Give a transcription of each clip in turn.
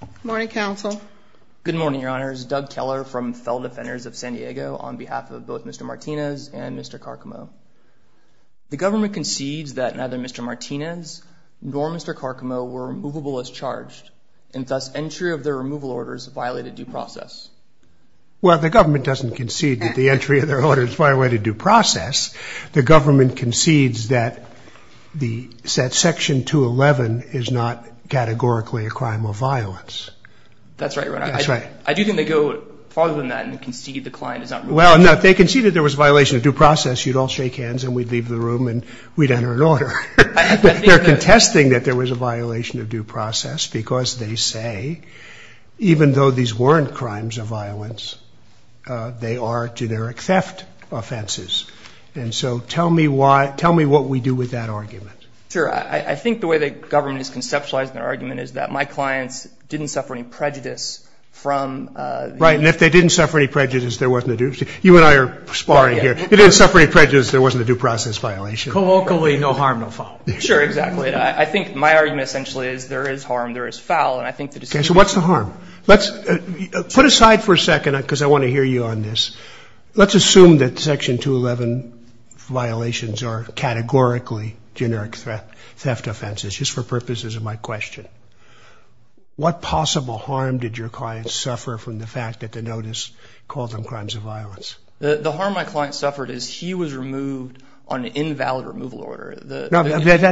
Good morning, Counsel. Good morning, Your Honors. Doug Keller from Fell Defenders of San Diego on behalf of both Mr. Martinez and Mr. Carcamo. The government concedes that neither Mr. Martinez nor Mr. Carcamo were removable as charged and thus entry of their removal orders violated due process. Well, the government doesn't concede that the entry of their orders violated due process. The government concedes that Section 211 is not categorically a crime of violence. That's right, Your Honor. That's right. I do think they go farther than that and concede the client is not removable. Well, no, they conceded there was a violation of due process. You'd all shake hands and we'd leave the room and we'd enter an order. They're contesting that there was a violation of due process because they say, even though these weren't crimes of violence, they are generic theft offenses. And so tell me why, tell me what we do with that argument. Sure. I think the way the government is conceptualizing their argument is that my clients didn't suffer any prejudice from. Right. And if they didn't suffer any prejudice, there wasn't a due process. You and I are sparring here. If they didn't suffer any prejudice, there wasn't a due process violation. Colloquially, no harm, no foul. Sure. Exactly. I think my argument essentially is there is harm, there is foul. And I think the decision. Okay. So what's the harm? Let's put aside for a second because I want to hear you on this. Let's assume that Section 211 violations are categorically generic theft offenses, just for purposes of my question. What possible harm did your client suffer from the fact that the notice called them crimes of violence? The harm my client suffered is he was removed on an invalid removal order. I'm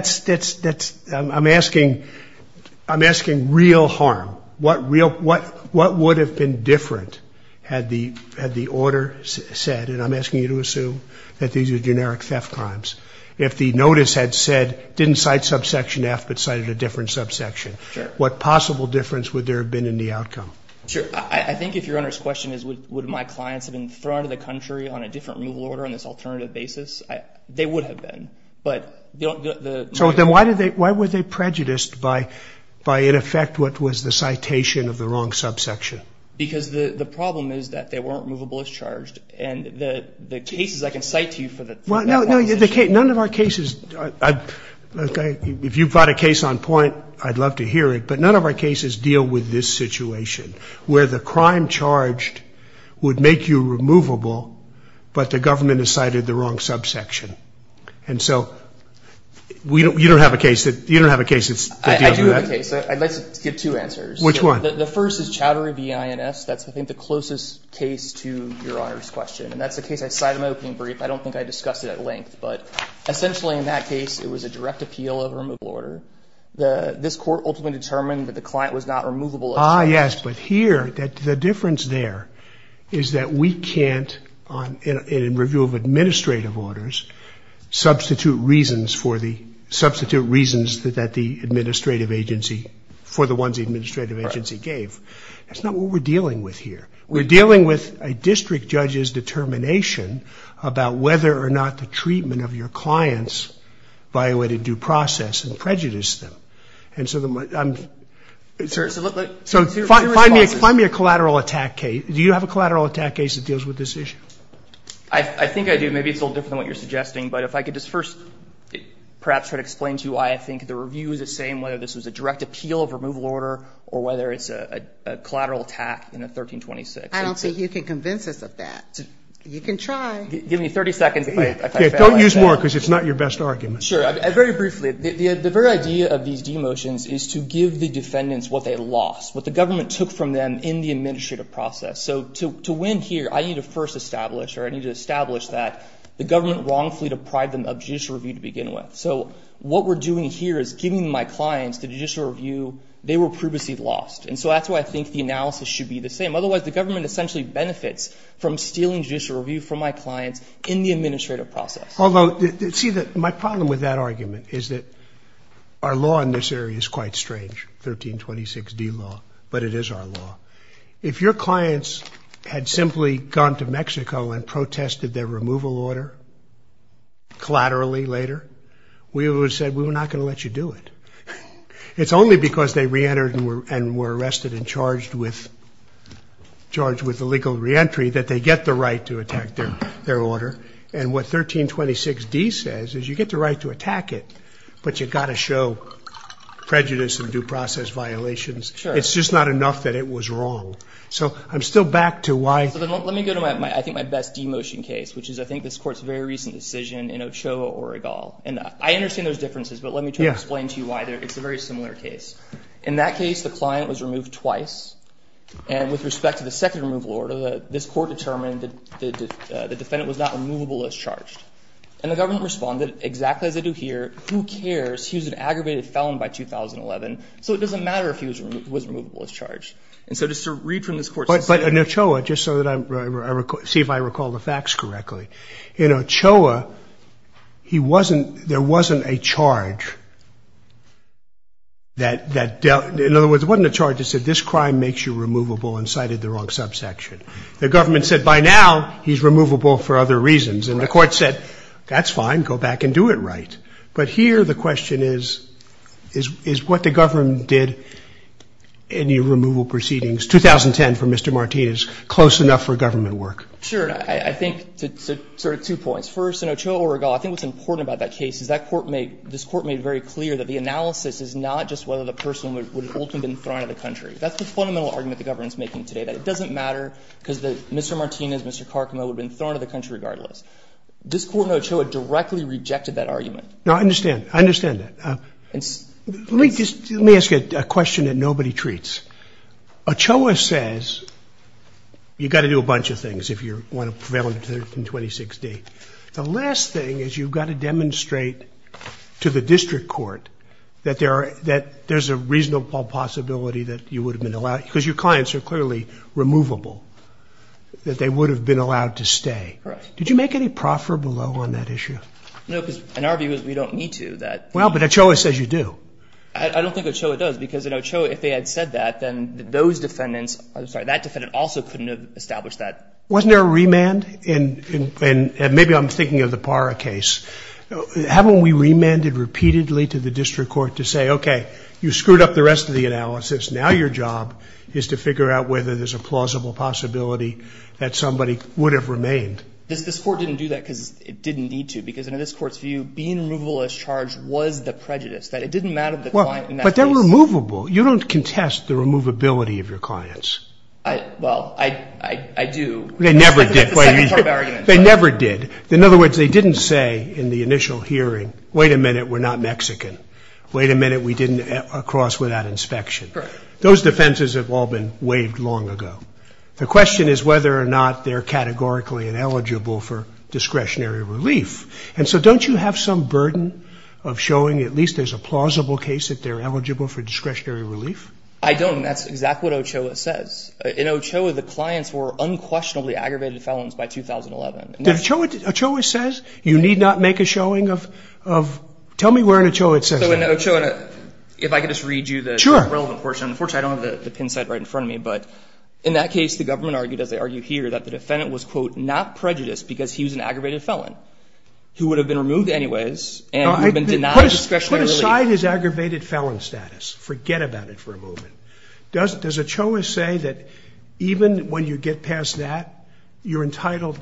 asking real harm. What would have been different had the order said, and I'm asking you to assume that these are generic theft crimes, if the notice had said didn't cite subsection F but cited a different subsection? Sure. What possible difference would there have been in the outcome? Sure. I think if your Honor's question is would my clients have been thrown out of the country on a different removal order on this alternative basis, they would have been. So then why were they prejudiced by, in effect, what was the citation of the wrong subsection? Because the problem is that they weren't removable as charged. And the cases I can cite to you for that. None of our cases, if you've got a case on point, I'd love to hear it. But none of our cases deal with this situation where the crime charged would make you removable, but the government has cited the wrong subsection. And so you don't have a case that deals with that? I do have a case. I'd like to give two answers. Which one? The first is Chowdhury v. INS. That's, I think, the closest case to your Honor's question. And that's the case I cited in my opening brief. I don't think I discussed it at length. But essentially in that case, it was a direct appeal of a removal order. This Court ultimately determined that the client was not removable as charged. Ah, yes. But here, the difference there is that we can't, in review of administrative orders, substitute reasons for the, substitute reasons that the administrative agency, for the ones the administrative agency gave. That's not what we're dealing with here. We're dealing with a district judge's determination about whether or not the treatment of your clients violated due process and prejudiced them. And so I'm, so find me a collateral attack case. Do you have a collateral attack case that deals with this issue? I think I do. Maybe it's a little different than what you're suggesting. But if I could just first perhaps try to explain to you why I think the review is the same, whether this was a direct appeal of removal order or whether it's a collateral attack in a 1326. I don't think you can convince us of that. You can try. Give me 30 seconds if I fail. Don't use more because it's not your best argument. Sure. Very briefly, the very idea of these demotions is to give the defendants what they lost, what the government took from them in the administrative process. So to win here, I need to first establish or I need to establish that the government wrongfully deprived them of judicial review to begin with. So what we're doing here is giving my clients the judicial review they were previously lost. And so that's why I think the analysis should be the same. Otherwise, the government essentially benefits from stealing judicial review from my clients in the administrative process. Although, see, my problem with that argument is that our law in this area is quite strange, 1326 D law, but it is our law. If your clients had simply gone to Mexico and protested their removal order collaterally later, we would have said we're not going to let you do it. It's only because they reentered and were arrested and charged with illegal reentry that they get the right to attack their order. And what 1326 D says is you get the right to attack it, but you've got to show prejudice and due process violations. It's just not enough that it was wrong. So I'm still back to why. So let me go to, I think, my best demotion case, which is I think this decision in Ochoa, Oregal. And I understand there's differences, but let me try to explain to you why. It's a very similar case. In that case, the client was removed twice. And with respect to the second removal order, this court determined the defendant was not removable as charged. And the government responded exactly as they do here, who cares, he was an aggravated felon by 2011, so it doesn't matter if he was removable as charged. And so just to read from this court's decision. But in Ochoa, just so that I see if I recall the facts correctly, in Ochoa, he wasn't, there wasn't a charge that dealt, in other words, it wasn't a charge that said this crime makes you removable and cited the wrong subsection. The government said by now, he's removable for other reasons. And the court said, that's fine, go back and do it right. But here the question is, is what the government did in the removal proceedings 2010 for Mr. Martinez close enough for government work? Sure. I think sort of two points. First, in Ochoa, Oregal, I think what's important about that case is that court made, this court made very clear that the analysis is not just whether the person would have ultimately been thrown out of the country. That's the fundamental argument the government's making today, that it doesn't matter because Mr. Martinez, Mr. Carcamo would have been thrown out of the country regardless. This court in Ochoa directly rejected that argument. No, I understand. I understand that. Let me just, let me ask you a question that nobody treats. Ochoa says you've got to do a bunch of things if you want to prevail in 2016. The last thing is you've got to demonstrate to the district court that there are, that there's a reasonable possibility that you would have been allowed, because your clients are clearly removable, that they would have been allowed to stay. Right. Did you make any proffer below on that issue? No, because in our view, we don't need to. Well, but Ochoa says you do. I don't think Ochoa does, because in Ochoa, if they had said that, then those defendants, I'm sorry, that defendant also couldn't have established that. Wasn't there a remand? And maybe I'm thinking of the Parra case. Haven't we remanded repeatedly to the district court to say, okay, you screwed up the rest of the analysis, now your job is to figure out whether there's a plausible possibility that somebody would have remained? This court didn't do that because it didn't need to, because in this court's view, being removable as charged was the prejudice, that it didn't matter to the client in that case. But they're removable. You don't contest the removability of your clients. Well, I do. They never did. That's a second-term argument. They never did. In other words, they didn't say in the initial hearing, wait a minute, we're not Mexican. Wait a minute, we didn't cross without inspection. Correct. Those defenses have all been waived long ago. The question is whether or not they're categorically ineligible for discretionary relief. And so don't you have some burden of showing at least there's a plausible case that they're eligible for discretionary relief? I don't. And that's exactly what Ochoa says. In Ochoa, the clients were unquestionably aggravated felons by 2011. Ochoa says you need not make a showing of, tell me where in Ochoa it says that. So in Ochoa, if I could just read you the relevant portion. Sure. Unfortunately, I don't have the pin set right in front of me, but in that case, the government argued, as they argue here, that the defendant was, quote, not prejudiced because he was an aggravated felon who would have been removed anyways and would have been denied discretionary relief. Put aside his aggravated felon status. Forget about it for a moment. Does Ochoa say that even when you get past that, you're entitled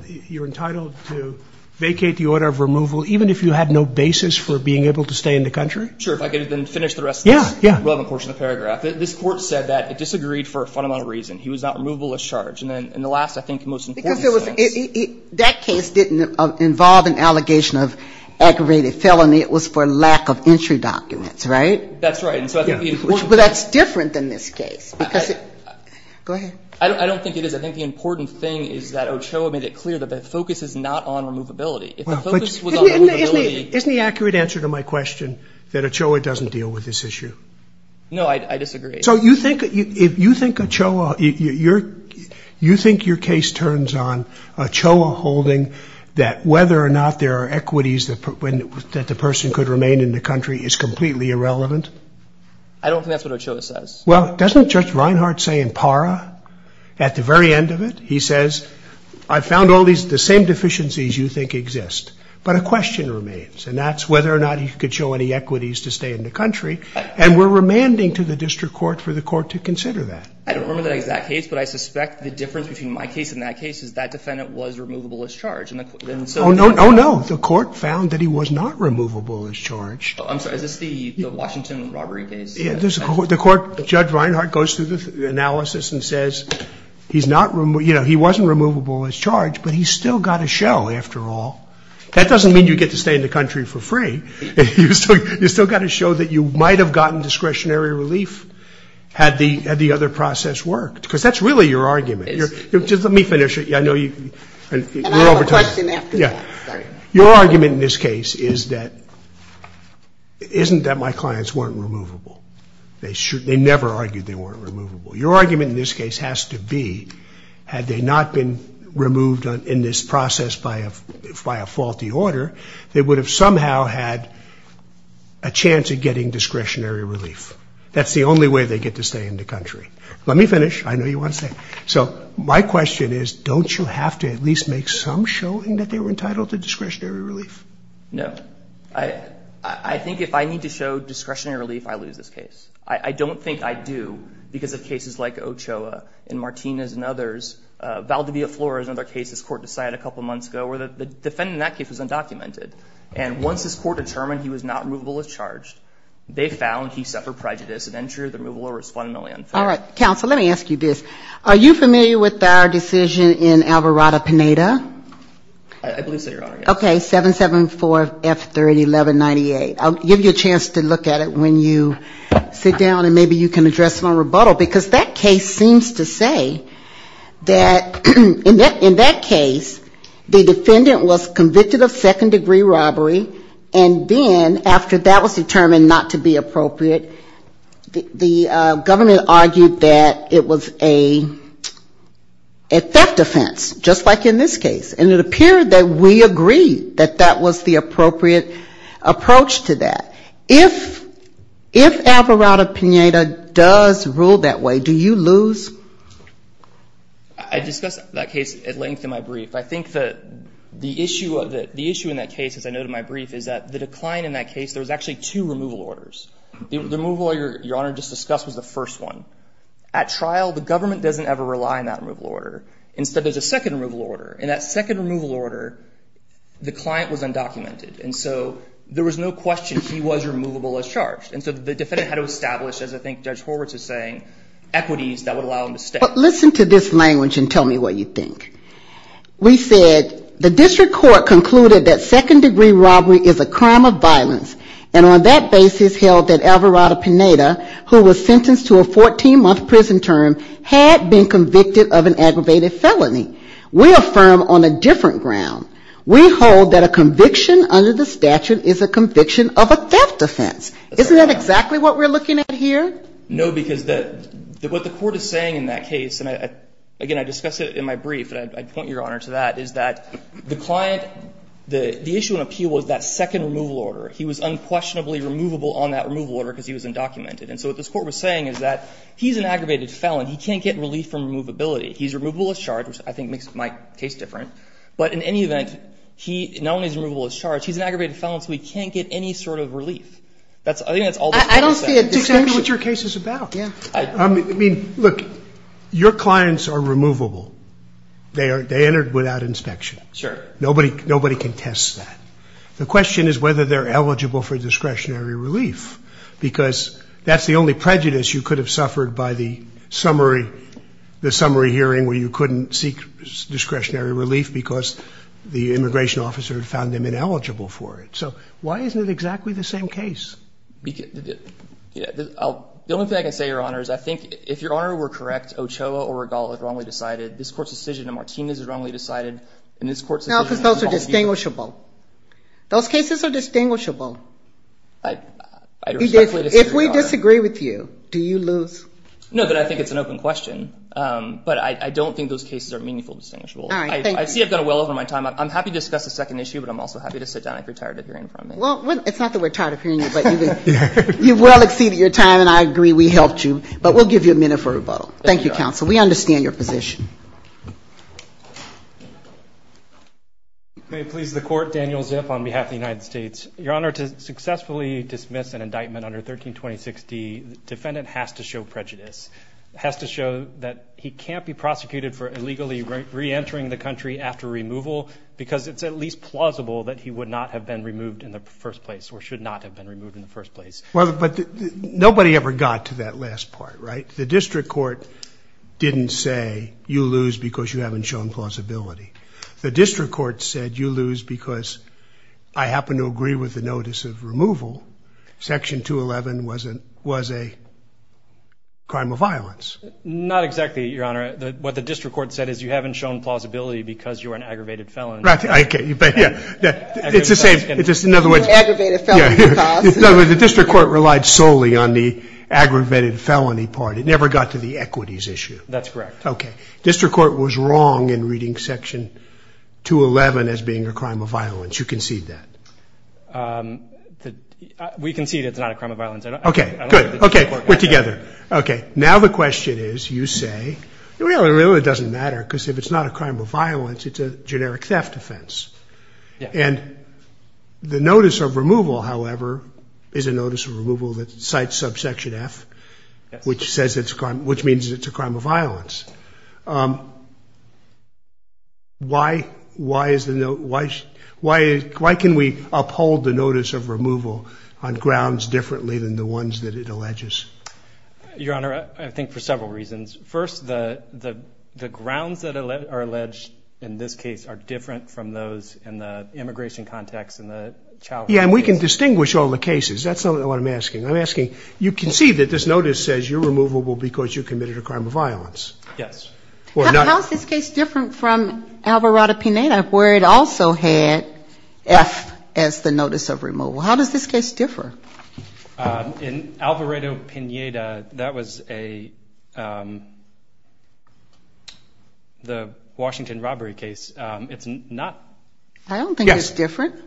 to vacate the order of removal even if you had no basis for being able to stay in the country? Sure. If I could then finish the rest of this relevant portion of the paragraph. Yeah, yeah. This Court said that it disagreed for a fundamental reason. He was not removable as charged. In the last, I think, most important sentence. Because that case didn't involve an allegation of aggravated felony. It was for lack of entry documents, right? That's right. But that's different than this case. Go ahead. I don't think it is. I think the important thing is that Ochoa made it clear that the focus is not on removability. If the focus was on removability. Isn't the accurate answer to my question that Ochoa doesn't deal with this issue? No, I disagree. So you think, if you think Ochoa, you think your case turns on Ochoa holding that whether or not there are equities that the person could remain in the country is completely irrelevant? I don't think that's what Ochoa says. Well, doesn't Judge Reinhart say in PARA, at the very end of it, he says, I found all these, the same deficiencies you think exist. But a question remains. And that's whether or not he could show any equities to stay in the country. And we're remanding to the district court for the court to consider that. I don't remember the exact case, but I suspect the difference between my case and that case is that defendant was removable as charge. Oh, no. The court found that he was not removable as charge. I'm sorry. Is this the Washington robbery case? The court, Judge Reinhart goes through the analysis and says he's not, he wasn't removable as charge, but he's still got to show, after all. That doesn't mean you get to stay in the country for free. You still got to show that you might have gotten discretionary relief had the other process worked. Because that's really your argument. Just let me finish. And I have a question after that. Your argument in this case is that, isn't that my clients weren't removable. They never argued they weren't removable. Your argument in this case has to be, had they not been removed in this process by a faulty order, they would have somehow had a chance of getting discretionary relief. That's the only way they get to stay in the country. Let me finish. I know you want to stay. So my question is, don't you have to at least make some showing that they were entitled to discretionary relief? No. I think if I need to show discretionary relief, I lose this case. I don't think I do because of cases like Ochoa and Martinez and others. Valdivia Flores, another case this court decided a couple months ago, where the defendant in that case was undocumented. And once this court determined he was not removable as charged, they found he suffered prejudice. An entry of the removable order is fundamentally unfair. All right. Counsel, let me ask you this. Are you familiar with our decision in Alvarado-Pineda? I believe so, Your Honor. Okay. 774-F30-1198. I'll give you a chance to look at it when you sit down and maybe you can address my rebuttal. Because that case seems to say that in that case, the defendant was convicted of second-degree robbery, and then after that was determined not to be appropriate, the government argued that it was a theft offense, just like in this case. And it appeared that we agreed that that was the appropriate approach to that. If Alvarado-Pineda does rule that way, do you lose? I discussed that case at length in my brief. I think that the issue in that case, as I noted in my brief, is that the decline in that case, there was actually two removal orders. The removal Your Honor just discussed was the first one. At trial, the government doesn't ever rely on that removal order. Instead, there's a second removal order. And that second removal order, the client was undocumented. And so there was no question he was removable as charged. And so the defendant had to establish, as I think Judge Horwitz is saying, equities that would allow him to stay. But listen to this language and tell me what you think. We said, the district court concluded that second-degree robbery is a crime of violence, and on that basis held that Alvarado-Pineda, who was sentenced to a 14-month prison term, had been convicted of an aggravated felony. We affirm on a different ground. We hold that a conviction under the statute is a conviction of a theft offense. Isn't that exactly what we're looking at here? No, because what the Court is saying in that case, and again, I discussed it in my brief, and I'd point Your Honor to that, is that the client, the issue in appeal was that second removal order. He was unquestionably removable on that removal order because he was undocumented. And so what this Court was saying is that he's an aggravated felon. He can't get relief from removability. He's removable as charged, which I think makes my case different. But in any event, not only is he removable as charged, he's an aggravated felon, so he can't get any sort of relief. I think that's all this Court is saying. I don't see a distinction. Explain to me what your case is about. I mean, look, your clients are removable. They entered without inspection. Sure. Nobody contests that. The question is whether they're eligible for discretionary relief because that's the only prejudice you could have suffered by the summary hearing where you couldn't seek discretionary relief because the immigration officer had found them ineligible for it. So why isn't it exactly the same case? The only thing I can say, Your Honor, is I think if Your Honor were correct, Ochoa or Regala were wrongly decided. This Court's decision on Martinez was wrongly decided, and this Court's decision on Paul B. No, because those are distinguishable. Those cases are distinguishable. I respectfully disagree, Your Honor. If we disagree with you, do you lose? No, but I think it's an open question. But I don't think those cases are meaningful distinguishable. All right, thank you. I see I've gone well over my time. I'm happy to discuss a second issue, but I'm also happy to sit down if you're tired of hearing from me. Well, it's not that we're tired of hearing you, but you've well exceeded your time, and I agree we helped you. But we'll give you a minute for rebuttal. Thank you, Counsel. We understand your position. May it please the Court, Daniel Zip on behalf of the United States. Your Honor, to successfully dismiss an indictment under 1326D, the defendant has to show prejudice. He has to show that he can't be prosecuted for illegally reentering the country after removal because it's at least plausible that he would not have been removed in the first place or should not have been removed in the first place. Well, but nobody ever got to that last part, right? The district court didn't say you lose because you haven't shown plausibility. The district court said you lose because I happen to agree with the notice of removal. Section 211 was a crime of violence. Not exactly, Your Honor. What the district court said is you haven't shown plausibility because you're an aggravated felon. Right. Okay. Yeah. It's the same. In other words, the district court relied solely on the aggravated felony part. It never got to the equities issue. That's correct. Okay. District court was wrong in reading Section 211 as being a crime of violence. You concede that. We concede it's not a crime of violence. Okay. Good. Okay. We're together. Okay. Now the question is, you say, well, it really doesn't matter because if it's not a crime of violence, it's a generic theft offense. Yeah. And the notice of removal, however, is a notice of removal that cites subsection F, which says it's a crime, which means it's a crime of violence. Why can we uphold the notice of removal on grounds differently than the ones that it alleges? Your Honor, I think for several reasons. First, the grounds that are alleged in this case are different from those in the immigration context and the child case. Yeah. And we can distinguish all the cases. That's not what I'm asking. I'm asking, you concede that this notice says you're removable because you committed a crime of violence. Yes. How is this case different from Alvarado-Pineda where it also had F as the notice of removal? How does this case differ? In Alvarado-Pineda, that was a, the Washington robbery case. It's not. I don't think it's different. Yes.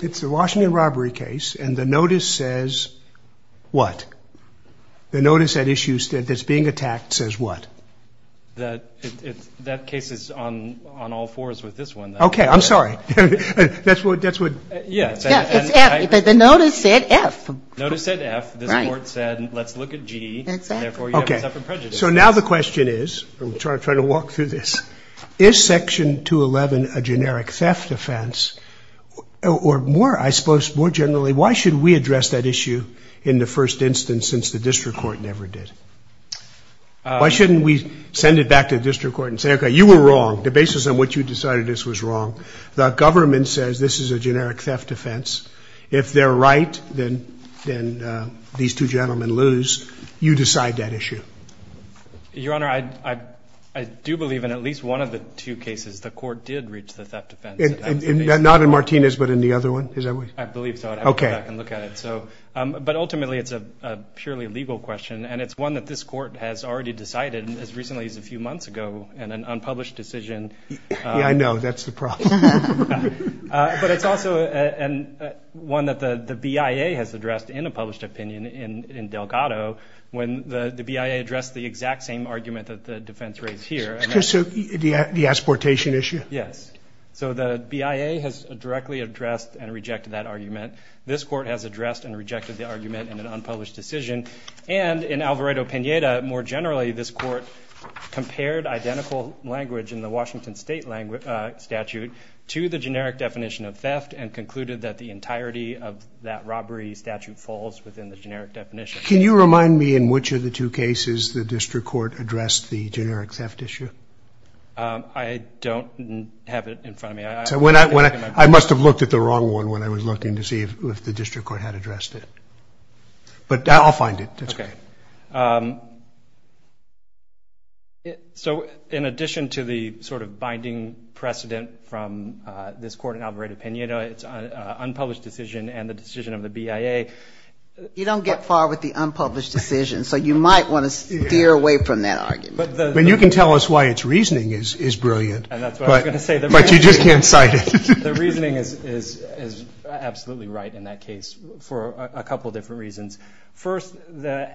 It's the Washington robbery case and the notice says what? The notice that issues that's being attacked says what? That case is on all fours with this one. Okay. I'm sorry. That's what. Yeah. The notice said F. The notice said F. This court said let's look at G. That's F. Okay. So now the question is, I'm trying to walk through this. Is Section 211 a generic theft offense or more, I suppose, more generally, why should we address that issue in the first instance since the district court never did? Why shouldn't we send it back to the district court and say, okay, you were wrong. The basis on which you decided this was wrong. The government says this is a generic theft offense. If they're right, then these two gentlemen lose. You decide that issue. Your Honor, I do believe in at least one of the two cases, the court did reach the theft offense. Not in Martinez but in the other one? I believe so. Okay. But ultimately, it's a purely legal question, and it's one that this court has already decided as recently as a few months ago in an unpublished decision. Yeah, I know. That's the problem. But it's also one that the BIA has addressed in a published opinion in Delgado when the BIA addressed the exact same argument that the defense raised here. The exportation issue? Yes. So the BIA has directly addressed and rejected that argument. This court has addressed and rejected the argument in an unpublished decision. And in Alvarado-Pineda, more generally, this court compared identical language in the Washington State statute to the generic definition of theft and concluded that the entirety of that robbery statute falls within the generic definition. Can you remind me in which of the two cases the district court addressed the generic theft issue? I don't have it in front of me. I must have looked at the wrong one when I was looking to see if the district court had addressed it. But I'll find it. Okay. So in addition to the sort of binding precedent from this court in Alvarado-Pineda, it's an unpublished decision and the decision of the BIA. You don't get far with the unpublished decision, so you might want to steer away from that argument. I mean, you can tell us why its reasoning is brilliant, but you just can't cite it. The reasoning is absolutely right in that case for a couple different reasons. First, the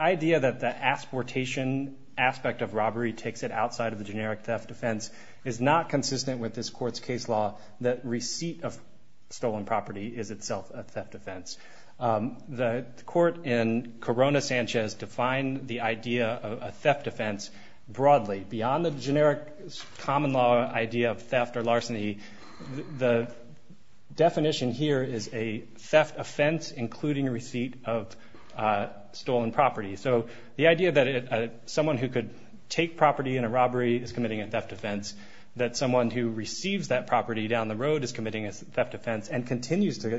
idea that the asportation aspect of robbery takes it outside of the generic theft defense is not consistent with this court's case law, that receipt of stolen property is itself a theft defense. The court in Corona-Sanchez defined the idea of a theft defense broadly. Beyond the generic common law idea of theft or larceny, the definition here is a theft offense, including receipt of stolen property. So the idea that someone who could take property in a robbery is committing a theft offense, that someone who receives that property down the road is committing a theft offense and continues to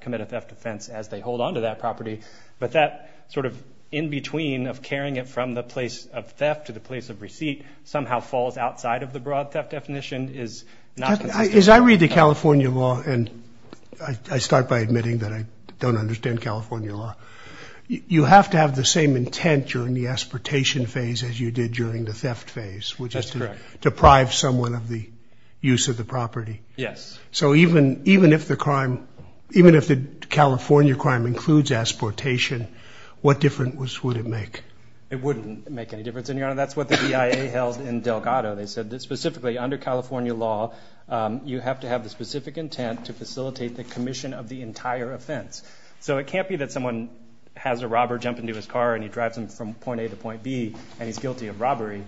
commit a theft offense as they hold onto that property. But that sort of in-between of carrying it from the place of theft to the place of receipt somehow falls outside of the broad theft definition is not consistent. As I read the California law, and I start by admitting that I don't understand California law, you have to have the same intent during the asportation phase as you did during the theft phase, which is to deprive someone of the use of the property. Yes. So even if the crime, even if the California crime includes asportation, what difference would it make? It wouldn't make any difference in your honor. That's what the BIA held in Delgado. They said that specifically under California law, you have to have the specific intent to facilitate the commission of the entire offense. So it can't be that someone has a robber jump into his car and he drives him from point A to point B and he's guilty of robbery.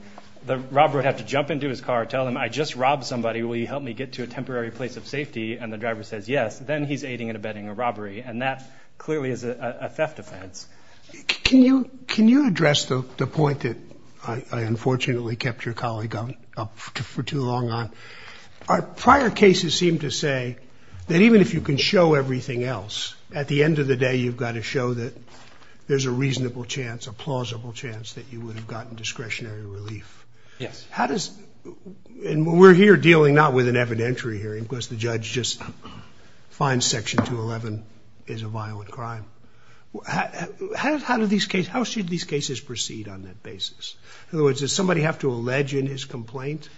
The robber would have to jump into his car, tell him I just robbed somebody. Will you help me get to a temporary place of safety? And the driver says, yes. Then he's aiding and abetting a robbery. And that clearly is a theft offense. Can you address the point that I unfortunately kept your colleague up for too long on? Our prior cases seem to say that even if you can show everything else, at the end of the day, you've got to show that there's a reasonable chance, a plausible chance that you would have gotten discretionary relief. Yes. We're here dealing not with an evidentiary hearing because the judge just finds Section 211 is a violent crime. How should these cases proceed on that basis? In other words, does somebody have to allege in his complaint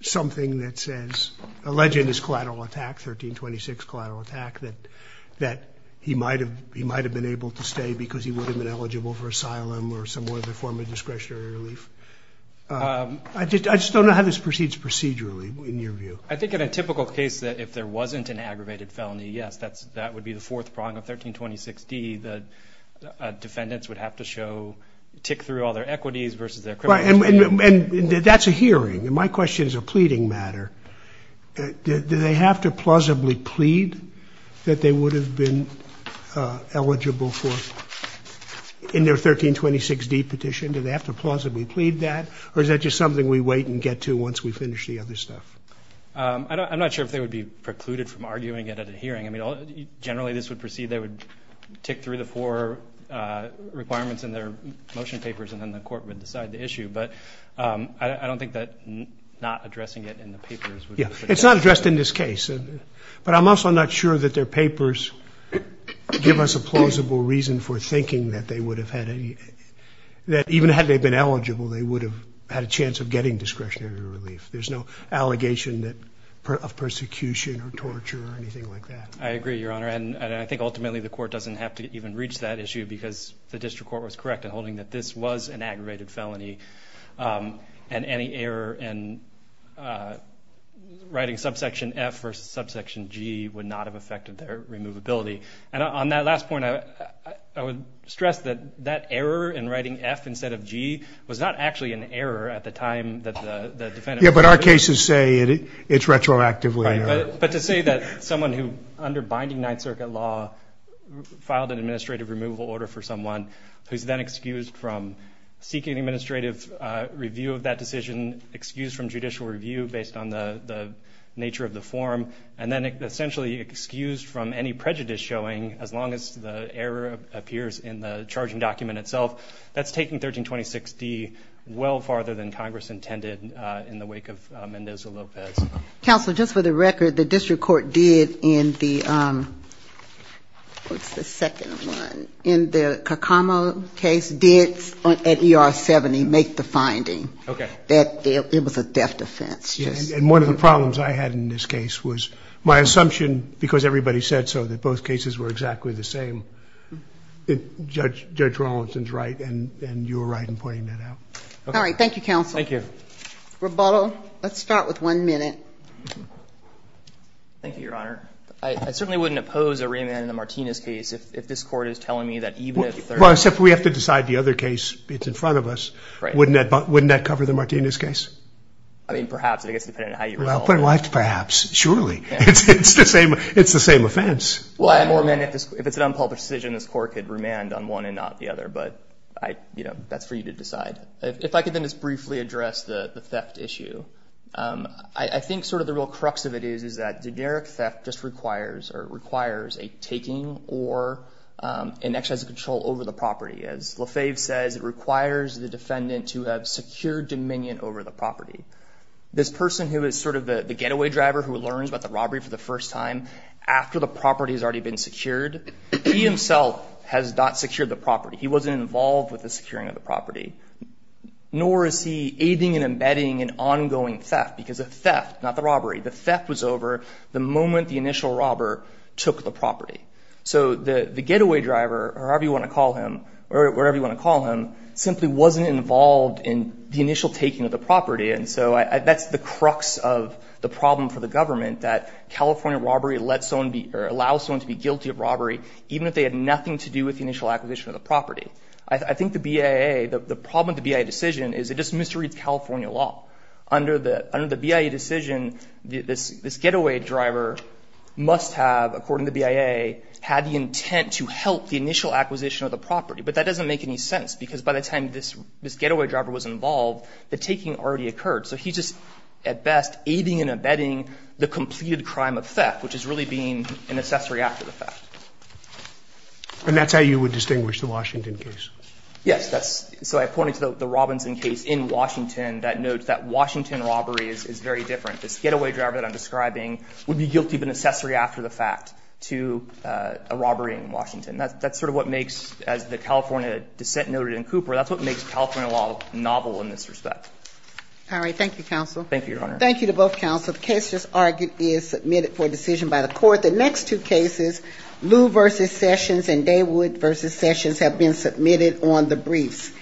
something that says, allege in his collateral attack, 1326 collateral attack, that he might have been able to stay because he would have been eligible for asylum or some other form of discretionary relief? I just don't know how this proceeds procedurally in your view. I think in a typical case that if there wasn't an aggravated felony, yes, that would be the fourth prong of 1326D. The defendants would have to show, tick through all their equities versus their criminal history. And that's a hearing. And my question is a pleading matter. Do they have to plausibly plead that they would have been eligible for in their 1326D petition? Do they have to plausibly plead that? Or is that just something we wait and get to once we finish the other stuff? I'm not sure if they would be precluded from arguing it at a hearing. I mean, generally this would proceed, they would tick through the four requirements in their motion papers, and then the court would decide the issue. But I don't think that not addressing it in the papers. Yeah, it's not addressed in this case. But I'm also not sure that their papers give us a plausible reason for even had they been eligible, they would have had a chance of getting discretionary relief. There's no allegation of persecution or torture or anything like that. I agree, Your Honor. And I think ultimately the court doesn't have to even reach that issue because the district court was correct in holding that this was an aggravated felony. And any error in writing subsection F versus subsection G would not have affected their removability. And on that last point, I would stress that that error in writing F instead of G was not actually an error at the time that the defendant was convicted. Yeah, but our cases say it's retroactively an error. Right. But to say that someone who, under binding Ninth Circuit law, filed an administrative removal order for someone who's then excused from seeking administrative review of that decision, excused from judicial review based on the nature of the form, and then essentially excused from any prejudice showing, as long as the error appears in the charging document itself, that's taking 1326D well farther than Congress intended in the wake of Mendoza-Lopez. Counsel, just for the record, the district court did in the, what's the second one, in the Kakamo case did at ER 70 make the finding that it was a theft offense. And one of the problems I had in this case was my assumption, because everybody said so, that both cases were exactly the same. Judge Rawlinson's right, and you were right in pointing that out. All right. Thank you, Counsel. Thank you. Roboto, let's start with one minute. Thank you, Your Honor. I certainly wouldn't oppose a remand in the Martinez case if this Court is telling me that even if they're not. Well, except we have to decide the other case. It's in front of us. Right. Wouldn't that cover the Martinez case? I mean, perhaps. I guess it depends on how you resolve it. Well, perhaps. Surely. It's the same offense. Well, I have more minutes. If it's an unpublished decision, this Court could remand on one and not the other. But, you know, that's for you to decide. If I could then just briefly address the theft issue. I think sort of the real crux of it is that generic theft just requires or requires a taking or an exercise of control over the property. As LaFave says, it requires the defendant to have secured dominion over the property. This person who is sort of the getaway driver who learns about the robbery for the first time after the property has already been secured, he himself has not secured the property. He wasn't involved with the securing of the property. Nor is he aiding and abetting an ongoing theft. Because a theft, not the robbery, the theft was over the moment the initial robber took the property. So the getaway driver, or however you want to call him, or wherever you want to call him, simply wasn't involved in the initial taking of the property. And so that's the crux of the problem for the government, that California robbery allows someone to be guilty of robbery even if they had nothing to do with the initial acquisition of the property. I think the BIA, the problem with the BIA decision is it just misreads California law. Under the BIA decision, this getaway driver must have, according to the BIA, had the intent to help the initial acquisition of the property. But that doesn't make any sense, because by the time this getaway driver was involved, the taking already occurred. So he's just, at best, aiding and abetting the completed crime of theft, which is really being an accessory after the theft. Roberts. And that's how you would distinguish the Washington case? Yes. So I pointed to the Robinson case in Washington that notes that Washington robbery is very different. This getaway driver that I'm describing would be guilty of an accessory after the theft to a robbery in Washington. That's sort of what makes, as the California dissent noted in Cooper, that's what makes California law novel in this respect. All right. Thank you, counsel. Thank you, Your Honor. Thank you to both counsel. The case just argued is submitted for decision by the court. The next two cases, Lew v. Sessions and Daywood v. Sessions, have been submitted on the briefs.